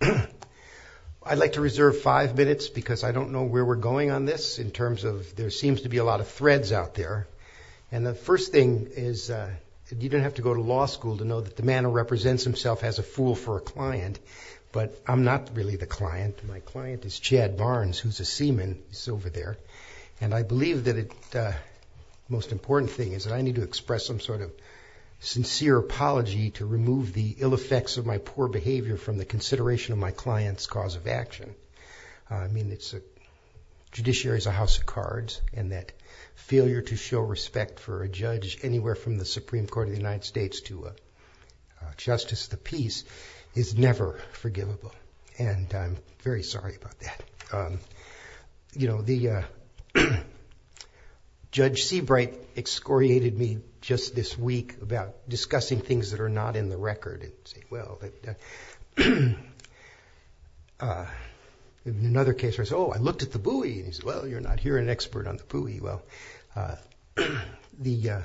I'd like to reserve five minutes because I don't know where we're going on this in terms of there seems to be a lot of threads out there and the first thing is you don't have to go to law school to know that the man who represents himself as a fool for a client but I'm not really the client. My client is Chad Barnes who's a seaman. He's over there and I believe that it most important thing is that I need to express some sort of sincere apology to remove the ill-affected effects of my poor behavior from the consideration of my client's cause of action. I mean, judiciary is a house of cards and that failure to show respect for a judge anywhere from the Supreme Court of the United States to a justice of the peace is never forgivable and I'm very sorry about that. Judge Seabright excoriated me just this week about discussing things that are not in the record. In another case, I said, oh, I looked at the buoy and he said, well, you're not here an expert on the buoy. Well, there's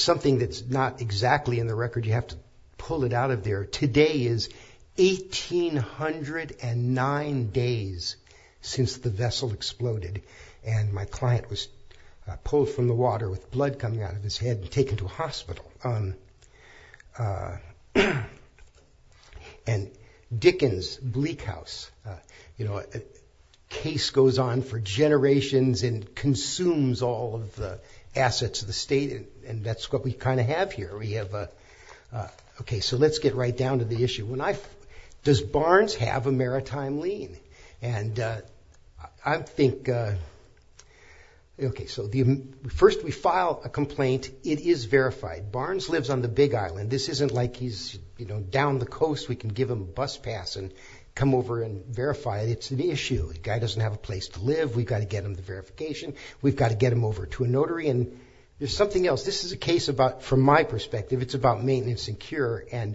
something that's not exactly in the record. You have to pull it out of there. Today is 1,809 days since the vessel exploded and my client was pulled from the water with blood coming out of his head and taken to a hospital. And Dickens' Bleak House, you know, a case goes on for generations and consumes all of the assets of the state and that's what we kind of have here. We have a, okay, so let's get right down to the issue. Does Barnes have a maritime lien? And I think, okay, so first we file a complaint. It is verified. Barnes lives on the Big Island. This isn't like he's, you know, down the coast. We can give him a bus pass and come over and verify it. It's an issue. The guy doesn't have a place to live. We've got to get him the verification. We've got to get him over to a notary and there's something else. This is a case about, from my perspective, it's about maintenance and cure. And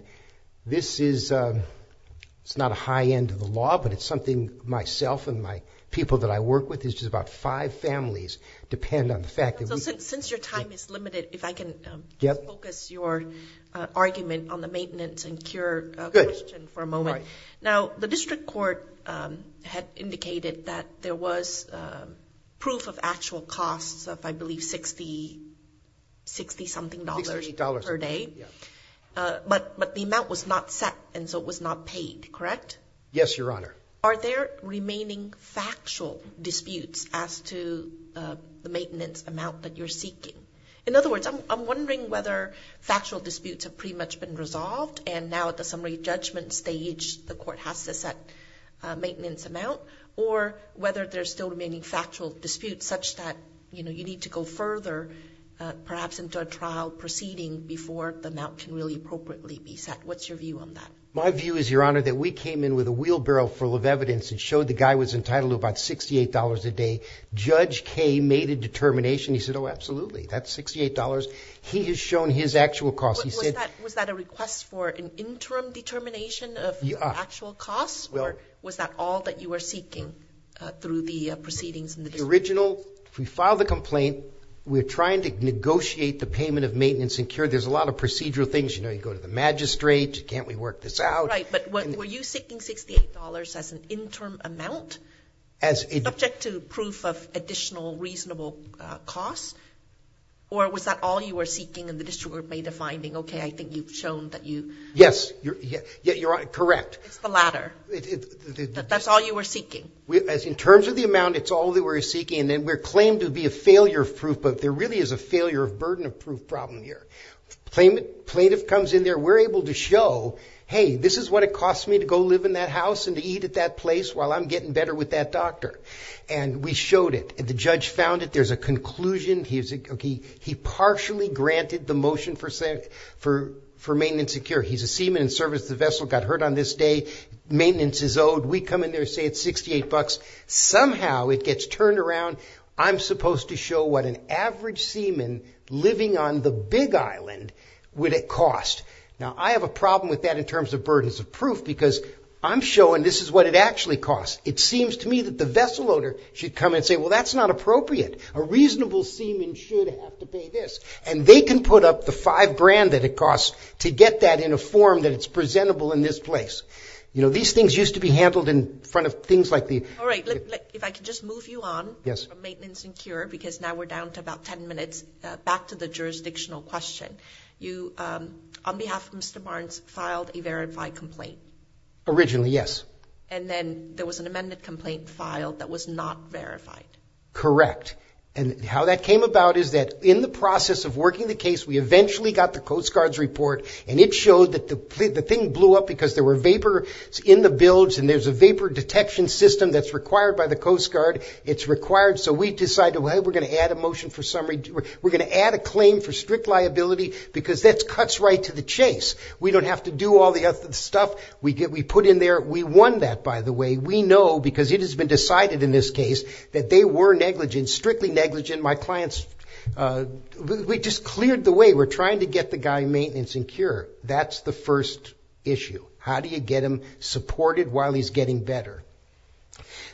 this is, it's not a high end of the law, but it's something myself and my people that I work with, it's just about five families depend on the fact that we... $60 something dollars per day. But the amount was not set and so it was not paid, correct? Yes, Your Honor. Are there remaining factual disputes as to the maintenance amount that you're seeking? In other words, I'm wondering whether factual disputes have pretty much been resolved and now at the summary judgment stage, the court has to set a maintenance amount or whether there's still remaining factual disputes such that, you know, you need to go further, perhaps in the future. You need to go into a trial proceeding before the amount can really appropriately be set. What's your view on that? My view is, Your Honor, that we came in with a wheelbarrow full of evidence and showed the guy was entitled to about $68 a day. Judge Kaye made a determination. He said, Oh, absolutely. That's $68. He has shown his actual costs. He said... Was that a request for an interim determination of actual costs or was that all that you were seeking through the proceedings? If we file the complaint, we're trying to negotiate the payment of maintenance and care. There's a lot of procedural things. You know, you go to the magistrate. Can't we work this out? Right, but were you seeking $68 as an interim amount? Subject to proof of additional reasonable costs? Or was that all you were seeking and the district made a finding? Okay, I think you've shown that you... Yes, Your Honor, correct. It's the latter. That's all you were seeking? As in terms of the amount, it's all that we're seeking. And then we're claimed to be a failure of proof, but there really is a failure of burden of proof problem here. Plaintiff comes in there. We're able to show, Hey, this is what it costs me to go live in that house and to eat at that place while I'm getting better with that doctor. And we showed it. The judge found it. There's a conclusion. He partially granted the motion for maintenance and care. He's a seaman in service. The vessel got hurt on this day. Maintenance is owed. We come in there and say it's $68. Somehow it gets turned around. I'm supposed to show what an average seaman living on the big island would it cost. Now, I have a problem with that in terms of burdens of proof because I'm showing this is what it actually costs. It seems to me that the vessel owner should come and say, Well, that's not appropriate. A reasonable seaman should have to pay this and they can put up the five grand that it costs to get that in a form that it's presentable in this place. You know, these things used to be handled in front of things like the... All right. If I could just move you on. Yes. Maintenance and cure, because now we're down to about 10 minutes. Back to the jurisdictional question. You, on behalf of Mr. Barnes, filed a verified complaint. Originally, yes. And then there was an amended complaint filed that was not verified. Correct. And how that came about is that in the process of working the case, we eventually got the Coast Guard's report and it showed that the thing blew up because there were vapors in the bilge and there's a vapor detection system that's required by the Coast Guard. It's required. So we decided, well, we're going to add a motion for summary. We're going to add a claim for strict liability because that cuts right to the chase. We don't have to do all the other stuff we put in there. We won that, by the way. We know because it has been decided in this case that they were negligent, strictly negligent. My clients... We just cleared the way. We're trying to get the guy maintenance and cure. That's the first issue. How do you get him supported while he's getting better?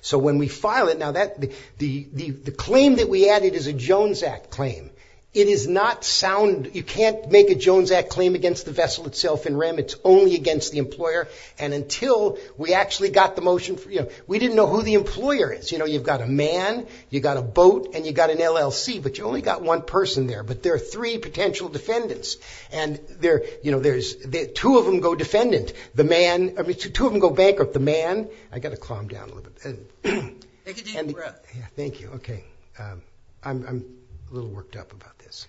So when we file it... Now, the claim that we added is a Jones Act claim. It is not sound... You can't make a Jones Act claim against the vessel itself in REM. It's only against the employer. And until we actually got the motion... We didn't know who the employer is. You've got a man, you've got a boat, and you've got an LLC. But you've only got one person there. But there are three potential defendants. Two of them go bankrupt. The man... I've got to calm down a little bit. Take a deep breath. Thank you. Okay. I'm a little worked up about this.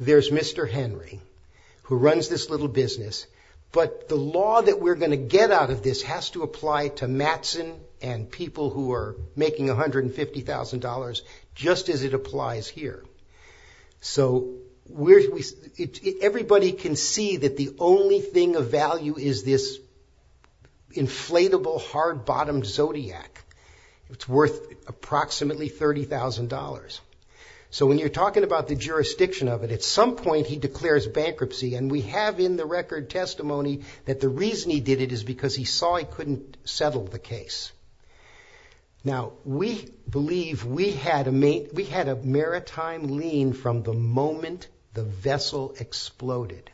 There's Mr. Henry who runs this little business. But the law that we're going to get out of this has to apply to Mattson and people who are making $150,000 just as it applies here. So everybody can see that the only thing of value is this inflatable, hard-bottomed Zodiac. It's worth approximately $30,000. So when you're talking about the jurisdiction of it, at some point he declares bankruptcy. And we have in the record testimony that the reason he did it is because he saw he couldn't settle the case. Now, we believe we had a maritime lien from the moment the vessel exploded.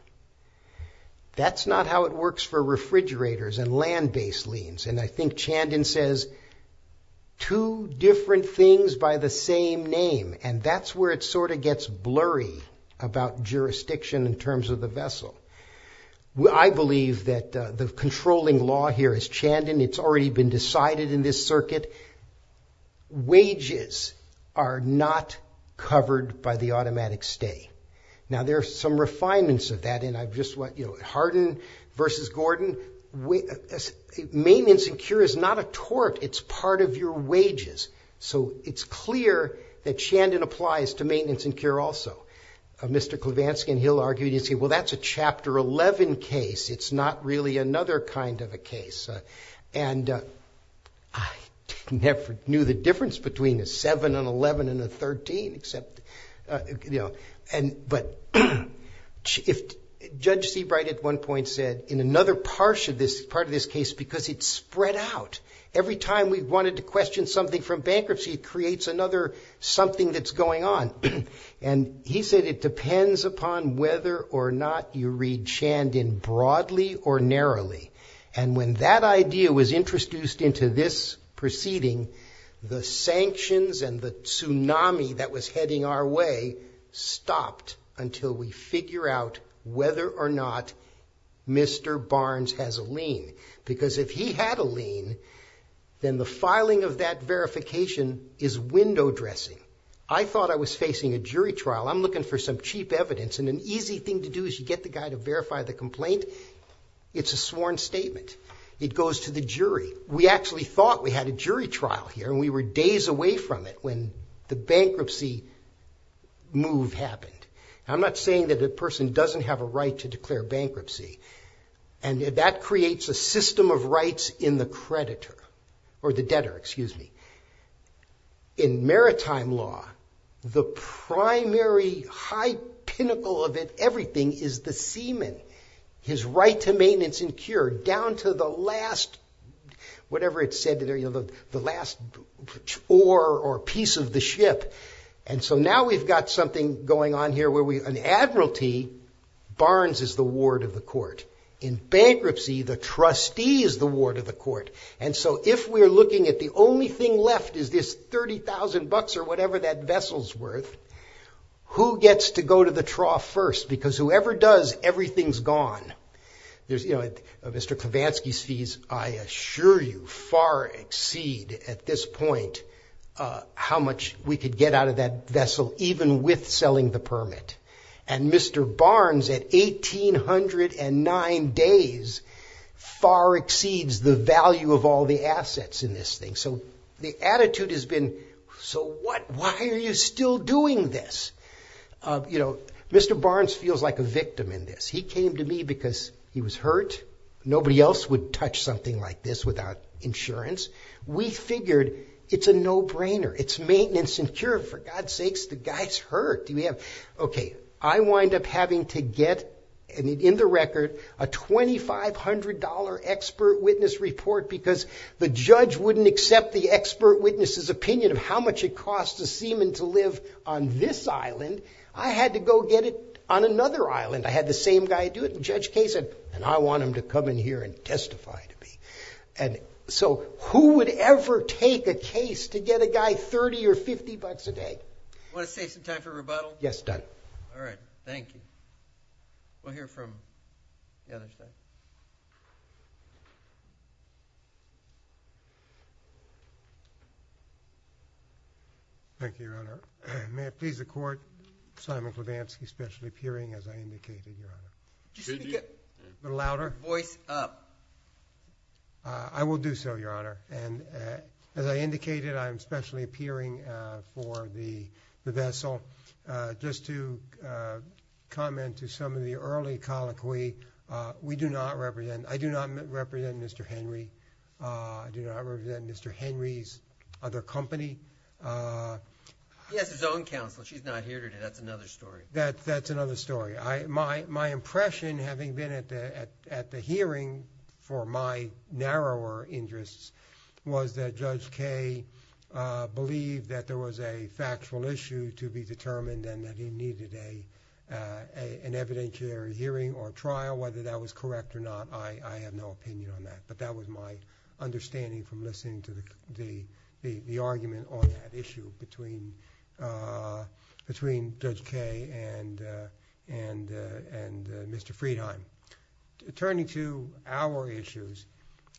That's not how it works for refrigerators and land-based liens. And I think Chandon says two different things by the same name. And that's where it sort of gets blurry about jurisdiction in terms of the vessel. I believe that the controlling law here is Chandon. It's already been decided in this circuit. Wages are not covered by the automatic stay. Now, there are some refinements of that. Harden versus Gordon. Maintenance and cure is not a tort. It's part of your wages. So it's clear that Chandon applies to maintenance and cure also. Mr. Klevansky and Hill argued and said, well, that's a Chapter 11 case. It's not really another kind of a case. And I never knew the difference between a 7, an 11, and a 13. But Judge Seabright at one point said, in another part of this case, because it spread out. Every time we wanted to question something from bankruptcy, it creates another something that's going on. And he said it depends upon whether or not you read Chandon broadly or narrowly. And when that idea was introduced into this proceeding, the sanctions and the tsunami that was heading our way stopped until we figure out whether or not Mr. Barnes has a lien. Because if he had a lien, then the filing of that verification is window dressing. I thought I was facing a jury trial. I'm looking for some cheap evidence. And an easy thing to do is you get the guy to verify the complaint. It's a sworn statement. It goes to the jury. We actually thought we had a jury trial here, and we were days away from it when the bankruptcy move happened. I'm not saying that a person doesn't have a right to declare bankruptcy. And that creates a system of rights in the creditor, or the debtor, excuse me. In maritime law, the primary high pinnacle of everything is the seaman, his right to maintenance and cure down to the last, whatever it's said, the last oar or piece of the ship. And so now we've got something going on here where an admiralty, Barnes is the ward of the court. In bankruptcy, the trustee is the ward of the court. And so if we're looking at the only thing left is this $30,000 or whatever that vessel's worth, who gets to go to the trough first? Because whoever does, everything's gone. Mr. Kavansky's fees, I assure you, far exceed at this point how much we could get out of that vessel, even with selling the permit. And Mr. Barnes, at 1,809 days, far exceeds the value of all the assets in this thing. So the attitude has been, so what? Why are you still doing this? You know, Mr. Barnes feels like a victim in this. He came to me because he was hurt. Nobody else would touch something like this without insurance. We figured it's a no-brainer. It's maintenance and cure. For God's sakes, the guy's hurt. Okay, I wind up having to get, in the record, a $2,500 expert witness report because the judge wouldn't accept the expert witness's opinion of how much it costs a seaman to live on this island. I had to go get it on another island. I had the same guy do it, and Judge Kay said, and I want him to come in here and testify to me. And so who would ever take a case to get a guy 30 or 50 bucks a day? Want to save some time for rebuttal? Yes, done. All right, thank you. We'll hear from the other side. Thank you, Your Honor. May it please the Court, Simon Klobansky specially appearing as I indicated, Your Honor. Could you speak up? A little louder? Voice up. I will do so, Your Honor. And as I indicated, I am specially appearing for the vessel. Just to comment to some of the early colloquy, we do not represent, I do not represent Mr. Henry. I do not represent Mr. Henry's other company. He has his own counsel. She's not here today. That's another story. My impression, having been at the hearing for my narrower interests, was that Judge Kay believed that there was a factual issue to be determined and that he needed an evidentiary hearing or trial. Whether that was correct or not, I have no opinion on that. But that was my understanding from listening to the argument on that issue between Judge Kay and Mr. Friedheim. Turning to our issues,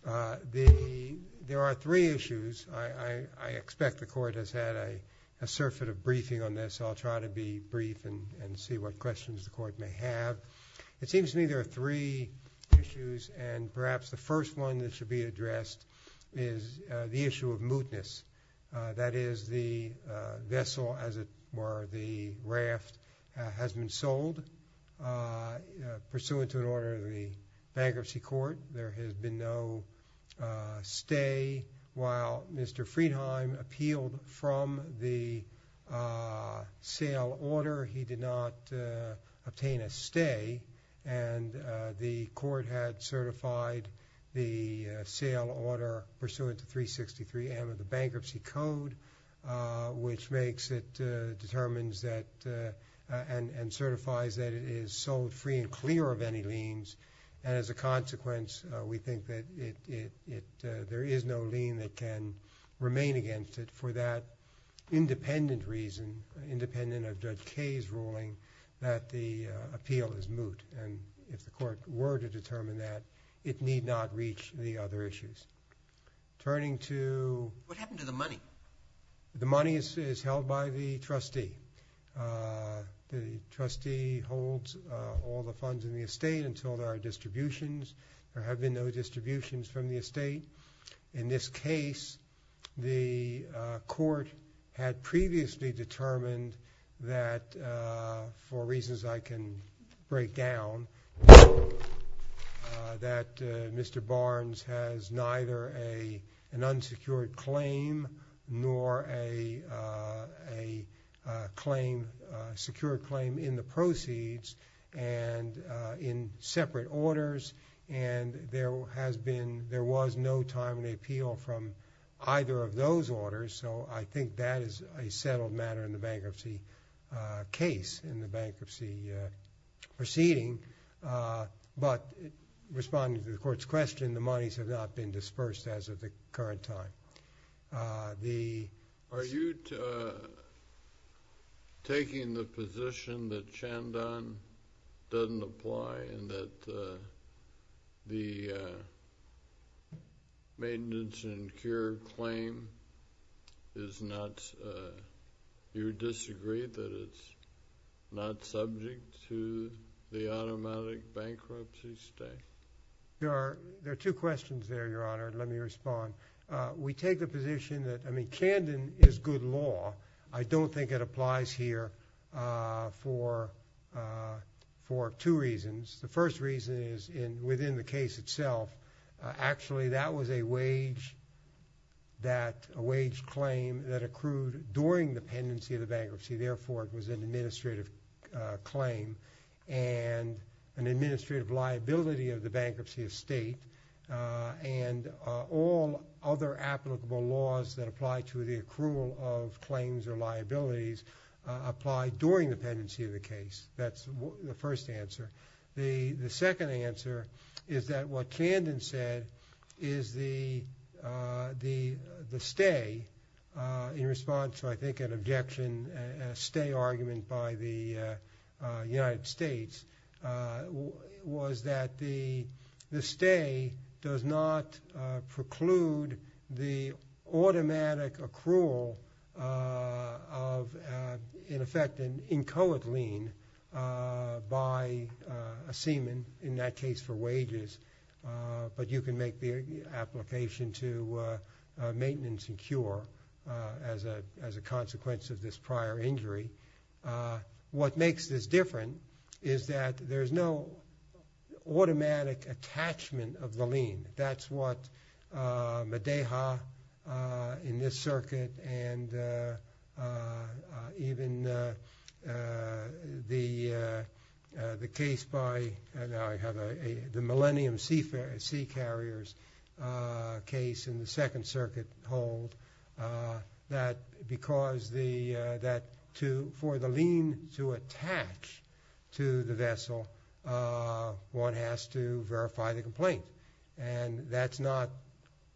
there are three issues. I expect the Court has had a surfeit of briefing on this. I'll try to be brief and see what questions the Court may have. It seems to me there are three issues, and perhaps the first one that should be addressed is the issue of mootness. That is, the vessel, or the raft, has been sold pursuant to an order of the bankruptcy court. There has been no stay. While Mr. Friedheim appealed from the sale order, he did not obtain a stay. The Court had certified the sale order pursuant to 363M of the bankruptcy code, which makes it determined and certifies that it is sold free and clear of any liens. As a consequence, we think that there is no lien that can remain against it for that independent reason, independent of Judge Kay's ruling, that the appeal is moot. If the Court were to determine that, it need not reach the other issues. Turning to... What happened to the money? The money is held by the trustee. The trustee holds all the funds in the estate until there are distributions. There have been no distributions from the estate. In this case, the Court had previously determined that, for reasons I can break down, that Mr. Barnes has neither an unsecured claim nor a secured claim in the proceeds and in separate orders. There was no time in the appeal from either of those orders, so I think that is a settled matter in the bankruptcy case, in the bankruptcy proceeding. But, responding to the Court's question, the monies have not been dispersed as of the current time. Are you taking the position that Chandon doesn't apply and that the maintenance and cure claim is not... You disagree that it's not subject to the automatic bankruptcy stay? There are two questions there, Your Honor. Let me respond. We take the position that, I mean, Chandon is good law. I don't think it applies here for two reasons. The first reason is, within the case itself, actually that was a wage claim that accrued during the pendency of the bankruptcy. Therefore, it was an administrative claim and an administrative liability of the bankruptcy estate. All other applicable laws that apply to the accrual of claims or liabilities apply during the pendency of the case. That's the first answer. The second answer is that what Chandon said is the stay in response to, I think, an objection, a stay argument by the United States was that the stay does not preclude the automatic accrual of, in effect, an inchoate lien by a seaman, in that case for wages. But you can make the application to maintenance and cure as a consequence of this prior injury. What makes this different is that there's no automatic attachment of the lien. That's what Medeja in this circuit and even the case by the Millennium Sea Carriers case in the Second Circuit hold, that because for the lien to attach to the vessel, one has to verify the complaint. And that's not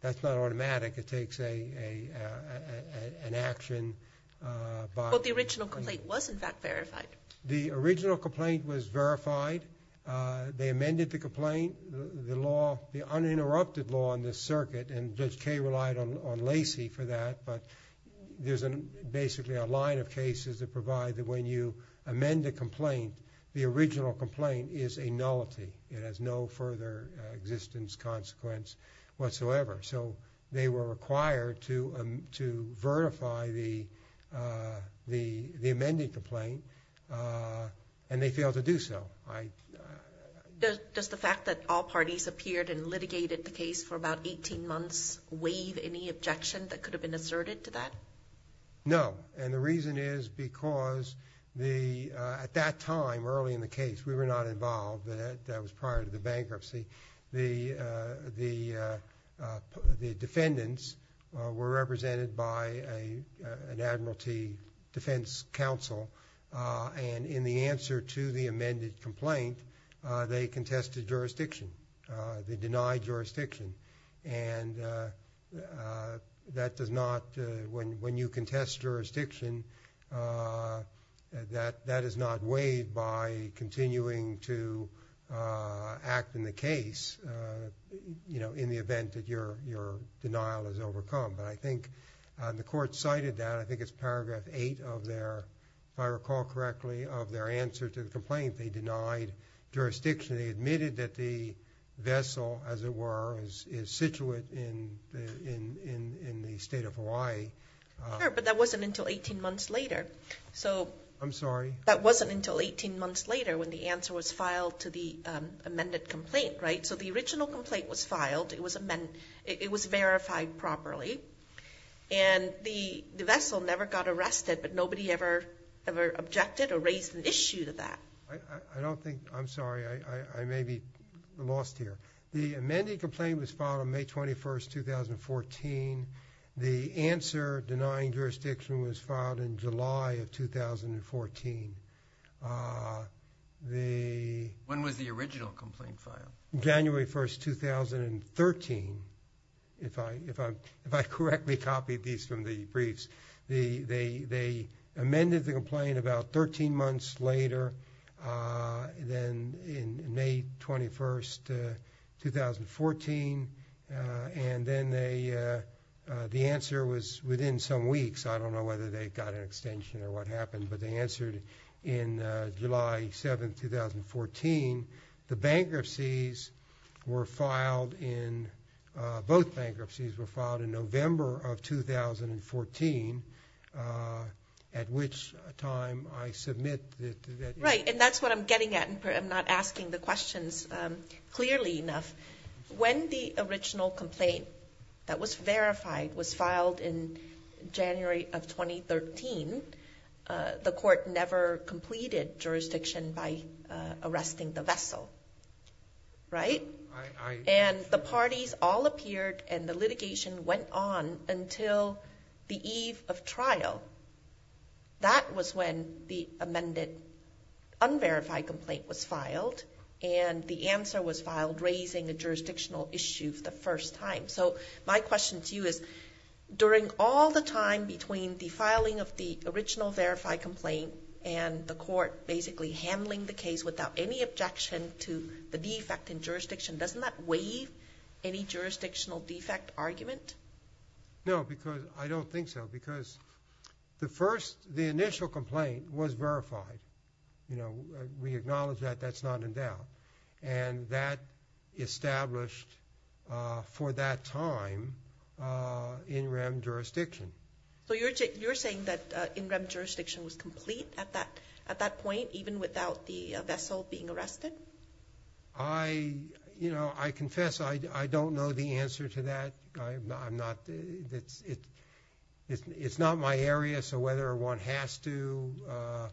automatic. It takes an action by- But the original complaint was, in fact, verified. The original complaint was verified. They amended the complaint. The law, the uninterrupted law in this circuit, and Judge Kaye relied on Lacey for that, but there's basically a line of cases that provide that when you amend a complaint, the original complaint is a nullity. It has no further existence, consequence whatsoever. So they were required to verify the amended complaint, and they failed to do so. Does the fact that all parties appeared and litigated the case for about 18 months waive any objection that could have been asserted to that? No, and the reason is because at that time, early in the case, we were not involved. That was prior to the bankruptcy. The defendants were represented by an Admiralty Defense Council, and in the answer to the amended complaint, they contested jurisdiction. They denied jurisdiction, and that does not- in the event that your denial is overcome, but I think the court cited that. I think it's paragraph 8 of their, if I recall correctly, of their answer to the complaint. They denied jurisdiction. They admitted that the vessel, as it were, is situated in the state of Hawaii. Sure, but that wasn't until 18 months later. I'm sorry? That wasn't until 18 months later when the answer was filed to the amended complaint, right? So the original complaint was filed. It was verified properly, and the vessel never got arrested, but nobody ever objected or raised an issue to that. I don't think-I'm sorry. I may be lost here. The amended complaint was filed on May 21, 2014. The answer denying jurisdiction was filed in July of 2014. When was the original complaint filed? January 1, 2013, if I correctly copied these from the briefs. They amended the complaint about 13 months later, then in May 21, 2014, and then the answer was within some weeks. I don't know whether they got an extension or what happened, but they answered in July 7, 2014. The bankruptcies were filed in-both bankruptcies were filed in November of 2014, at which time I submit that- Right, and that's what I'm getting at. I'm not asking the questions clearly enough. When the original complaint that was verified was filed in January of 2013, the court never completed jurisdiction by arresting the vessel, right? I-I- And the parties all appeared, and the litigation went on until the eve of trial. That was when the amended unverified complaint was filed, and the answer was filed raising a jurisdictional issue for the first time. So, my question to you is, during all the time between the filing of the original verified complaint and the court basically handling the case without any objection to the defect in jurisdiction, doesn't that waive any jurisdictional defect argument? No, because-I don't think so. Because the first-the initial complaint was verified. You know, we acknowledge that. That's not in doubt. And that established, for that time, in-rem jurisdiction. So, you're saying that in-rem jurisdiction was complete at that point, even without the vessel being arrested? I-you know, I confess I don't know the answer to that. I'm not-it's not my area. So, whether one has to-arguably,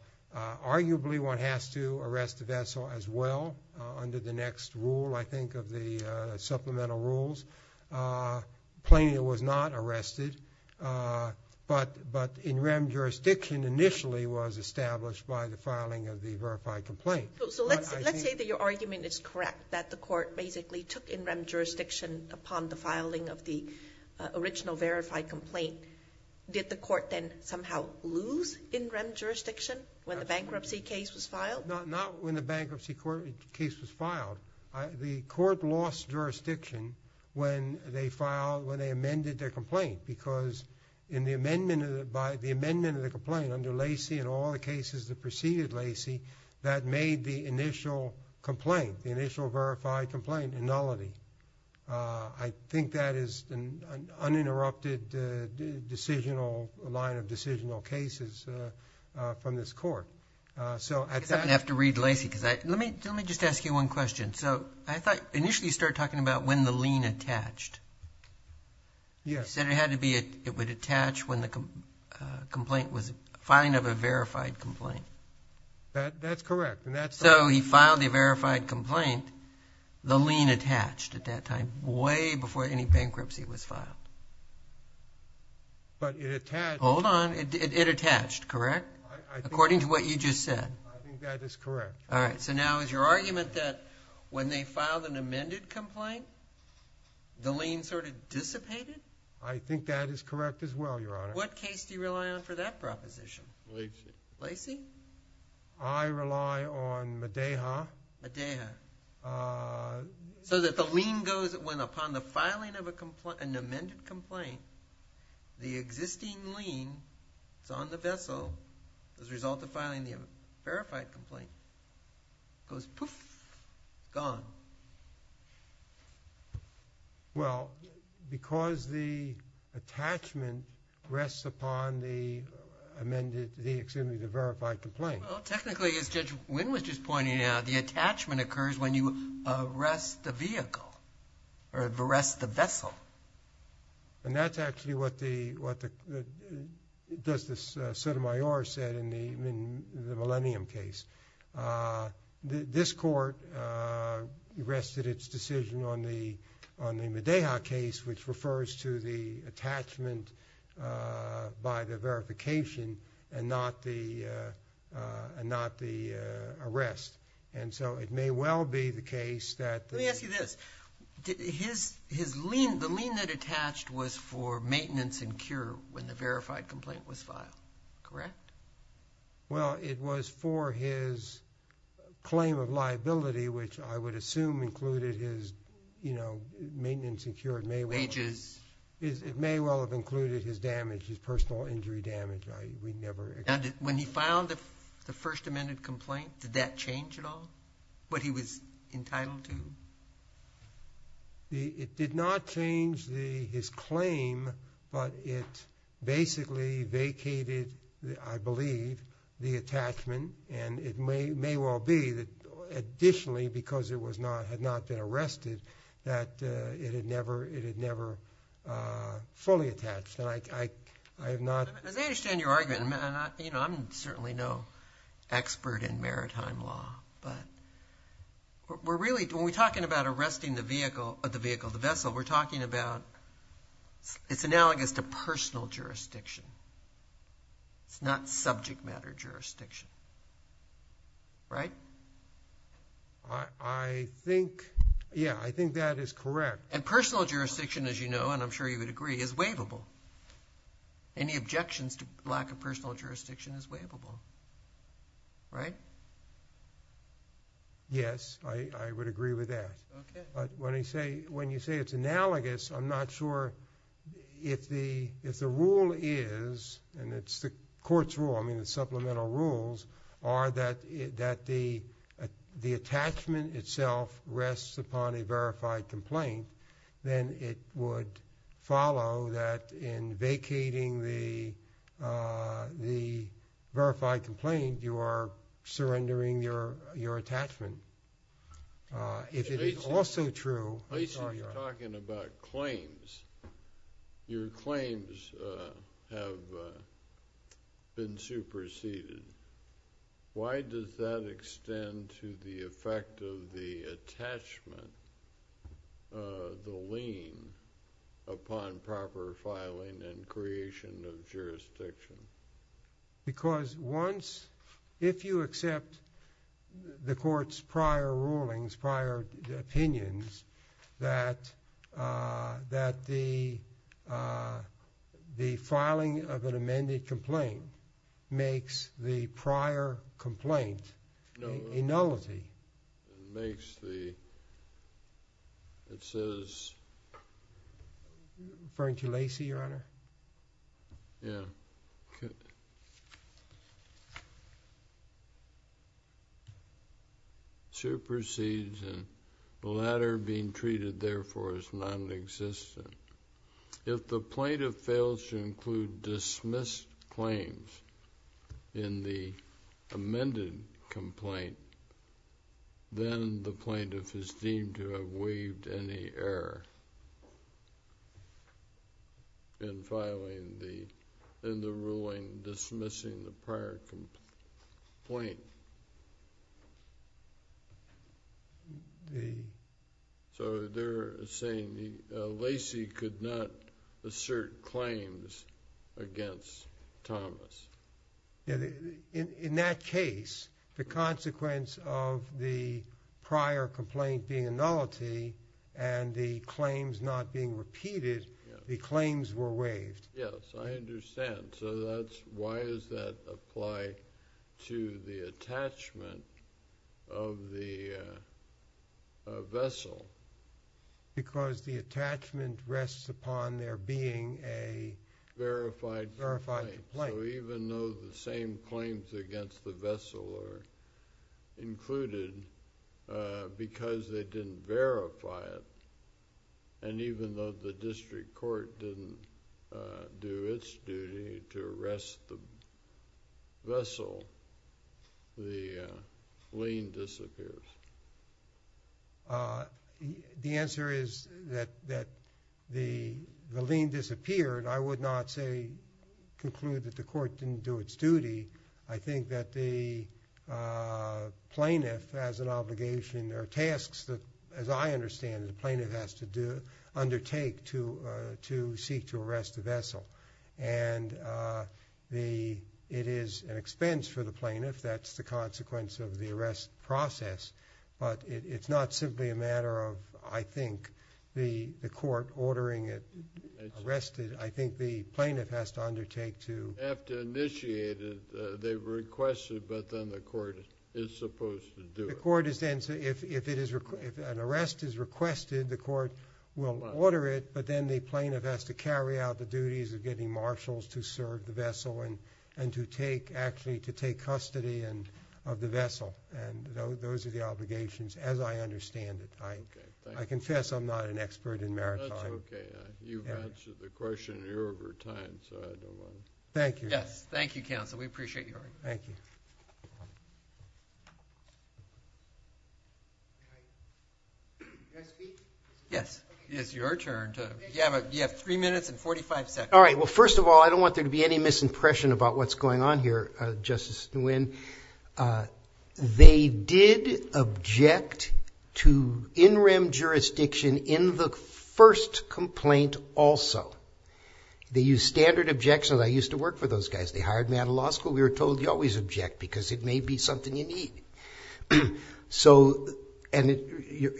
one has to arrest the vessel as well, under the next rule, I think, of the supplemental rules. Plainly, it was not arrested. But in-rem jurisdiction initially was established by the filing of the verified complaint. So, let's say that your argument is correct, that the court basically took in-rem jurisdiction upon the filing of the original verified complaint. Did the court then somehow lose in-rem jurisdiction when the bankruptcy case was filed? Not when the bankruptcy case was filed. The court lost jurisdiction when they filed-when they amended their complaint. Because in the amendment-by the amendment of the complaint, under Lacey and all the cases that preceded Lacey, that made the initial complaint, the initial verified complaint, nullity. I think that is an uninterrupted decisional-line of decisional cases from this court. So, at that- I guess I'm going to have to read Lacey, because I-let me-let me just ask you one question. So, I thought-initially you started talking about when the lien attached. Yes. You said it had to be-it would attach when the complaint was-filing of a verified complaint. That-that's correct, and that's- So, he filed a verified complaint. The lien attached at that time, way before any bankruptcy was filed. But it attached- Hold on. It-it attached, correct? I think- According to what you just said. I think that is correct. All right. So, now is your argument that when they filed an amended complaint, the lien sort of dissipated? I think that is correct as well, Your Honor. What case do you rely on for that proposition? Lacey. Lacey? I rely on Medeja. Medeja. So, that the lien goes-when upon the filing of a complaint-an amended complaint, the existing lien is on the vessel as a result of filing the verified complaint, goes poof, gone. Well, because the attachment rests upon the amended-the, excuse me, the verified complaint. Well, technically, as Judge Wynn was just pointing out, the attachment occurs when you arrest the vehicle, or arrest the vessel. And that's actually what the-what the-does this Sotomayor said in the-in the Millennium case. This court rested its decision on the-on the Medeja case, which refers to the attachment by the verification and not the-and not the arrest. And so, it may well be the case that- Let me ask you this. His-his lien-the lien that attached was for maintenance and cure when the verified complaint was filed, correct? Well, it was for his claim of liability, which I would assume included his, you know, maintenance and cure. It may well- Wages. It may well have included his damage, his personal injury damage. I would never- And when he filed the first amended complaint, did that change at all, what he was entitled to? The-it did not change the-his claim, but it basically vacated, I believe, the attachment. And it may-may well be that additionally, because it was not-had not been arrested, that it had never-it had never fully attached. And I-I-I have not- As I understand your argument, you know, I'm certainly no expert in maritime law. But we're really-when we're talking about arresting the vehicle-the vehicle, the vessel, we're talking about-it's analogous to personal jurisdiction. It's not subject matter jurisdiction, right? I-I think-yeah, I think that is correct. And personal jurisdiction, as you know, and I'm sure you would agree, is waivable. Any objections to lack of personal jurisdiction is waivable, right? Yes, I-I would agree with that. Okay. But when I say-when you say it's analogous, I'm not sure if the-if the rule is, and it's the court's rule, I mean, the supplemental rules, are that-that the attachment itself rests upon a verified complaint, then it would follow that in vacating the-the verified complaint, you are surrendering your-your attachment. If it is also true- I assume you're talking about claims. Your claims have been superseded. Why does that extend to the effect of the attachment, the lien, upon proper filing and creation of jurisdiction? Because once-if you accept the court's prior rulings, prior opinions, that-that the-the filing of an amended complaint makes the prior complaint a nullity. Makes the-it says- Yeah. Okay. Supersedes, and the latter being treated, therefore, as nonexistent. If the plaintiff fails to include dismissed claims in the amended complaint, then the plaintiff is deemed to have waived any error. In filing the-in the ruling dismissing the prior complaint. The- So they're saying the-Lacey could not assert claims against Thomas. In that case, the consequence of the prior complaint being a nullity and the claims not being repeated, the claims were waived. Yes, I understand. So that's-why does that apply to the attachment of the vessel? Because the attachment rests upon there being a verified complaint. So even though the same claims against the vessel are included, because they didn't verify it, and even though the district court didn't do its duty to arrest the vessel, the lien disappears. The answer is that the lien disappeared. I would not say-conclude that the court didn't do its duty. I think that the plaintiff has an obligation or tasks that, as I understand it, the plaintiff has to do-undertake to seek to arrest the vessel. And the-it is an expense for the plaintiff. That's the consequence of the arrest process. But it's not simply a matter of, I think, the court ordering it arrested. I think the plaintiff has to undertake to- Have to initiate it. They've requested, but then the court is supposed to do it. The court is then-if it is-if an arrest is requested, the court will order it, but then the plaintiff has to carry out the duties of getting marshals to serve the vessel and to take-actually to take custody of the vessel. And those are the obligations, as I understand it. I confess I'm not an expert in maritime. That's okay. You've answered the question here over time, so I don't want to- Thank you. Yes. Thank you, counsel. We appreciate your- Thank you. Can I speak? Yes. It's your turn. You have three minutes and 45 seconds. All right. Well, first of all, I don't want there to be any misimpression about what's going on here, Justice Nguyen. They did object to in-rim jurisdiction in the first complaint also. They used standard objections. I used to work for those guys. They hired me out of law school. We were told you always object because it may be something you need. So, and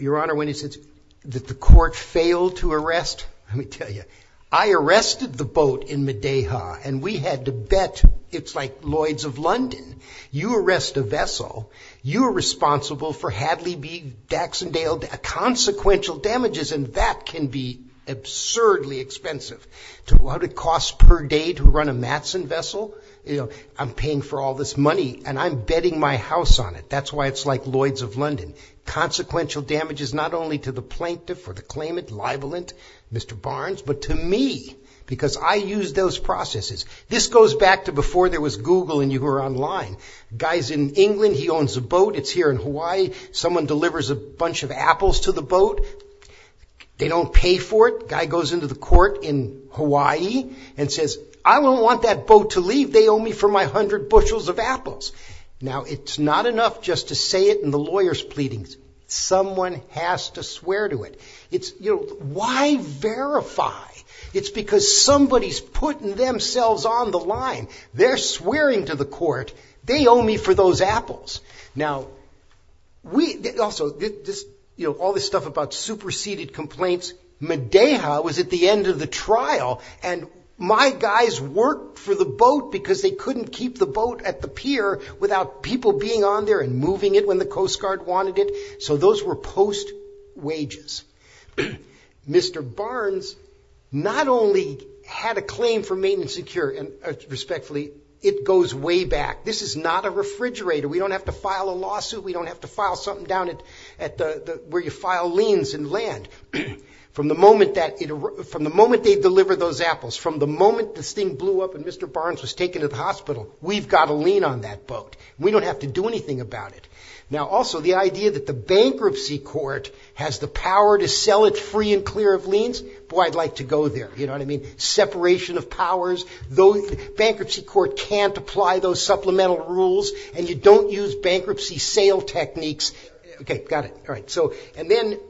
Your Honor, when he says that the court failed to arrest, let me tell you, I arrested the boat in Madeha, and we had to bet it's like Lloyd's of London. You arrest a vessel. You are responsible for Hadley B. Daxondale consequential damages, and that can be absurdly expensive. To what it costs per day to run a Matson vessel, you know, I'm paying for all this money, and I'm betting my house on it. That's why it's like Lloyd's of London. Consequential damages not only to the plaintiff or the claimant, libelant, Mr. Barnes, but to me because I used those processes. This goes back to before there was Google and you were online. Guy's in England. He owns a boat. It's here in Hawaii. Someone delivers a bunch of apples to the boat. They don't pay for it. Guy goes into the court in Hawaii and says, I don't want that boat to leave. They owe me for my hundred bushels of apples. Now, it's not enough just to say it in the lawyer's pleadings. Someone has to swear to it. It's, you know, why verify? It's because somebody's putting themselves on the line. They're swearing to the court. They owe me for those apples. Now, also, you know, all this stuff about superseded complaints, Medeja was at the end of the trial and my guys worked for the boat because they couldn't keep the boat at the pier without people being on there and moving it when the Coast Guard wanted it. So those were post-wages. Mr. Barnes not only had a claim for maintenance and secure, respectfully, it goes way back. This is not a refrigerator. We don't have to file a lawsuit. We don't have to file something down where you file liens and land. From the moment they deliver those apples, from the moment this thing blew up and Mr. Barnes was taken to the hospital, we've got a lien on that boat. We don't have to do anything about it. Now, also, the idea that the bankruptcy court has the power to sell it free and clear of liens, boy, I'd like to go there. You know what I mean? Separation of powers. Bankruptcy court can't apply those supplemental rules and you don't use bankruptcy sale techniques. Okay. Got it. All right. And then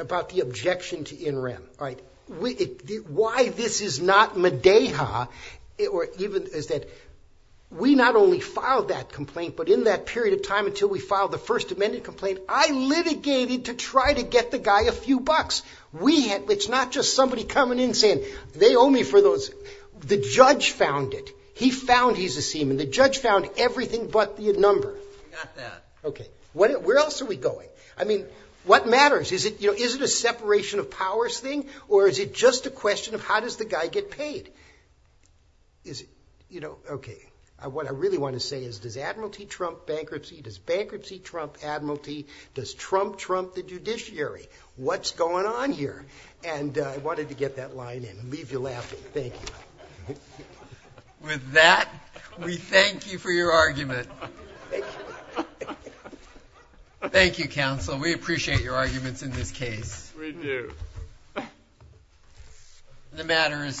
about the objection to NREM. All right. Why this is not mideha is that we not only filed that complaint, but in that period of time until we filed the First Amendment complaint, I litigated to try to get the guy a few bucks. It's not just somebody coming in saying, they owe me for those. The judge found it. He found he's a seaman. The judge found everything but the number. Got that. Okay. Where else are we going? I mean, what matters? Is it a separation of powers thing or is it just a question of how does the guy get paid? Is it, you know, okay. What I really want to say is, does Admiralty trump bankruptcy? Does bankruptcy trump Admiralty? Does Trump trump the judiciary? What's going on here? And I wanted to get that line in and leave you laughing. Thank you. With that, we thank you for your argument. Thank you, counsel. We appreciate your arguments in this case. We do. The matter is submitted.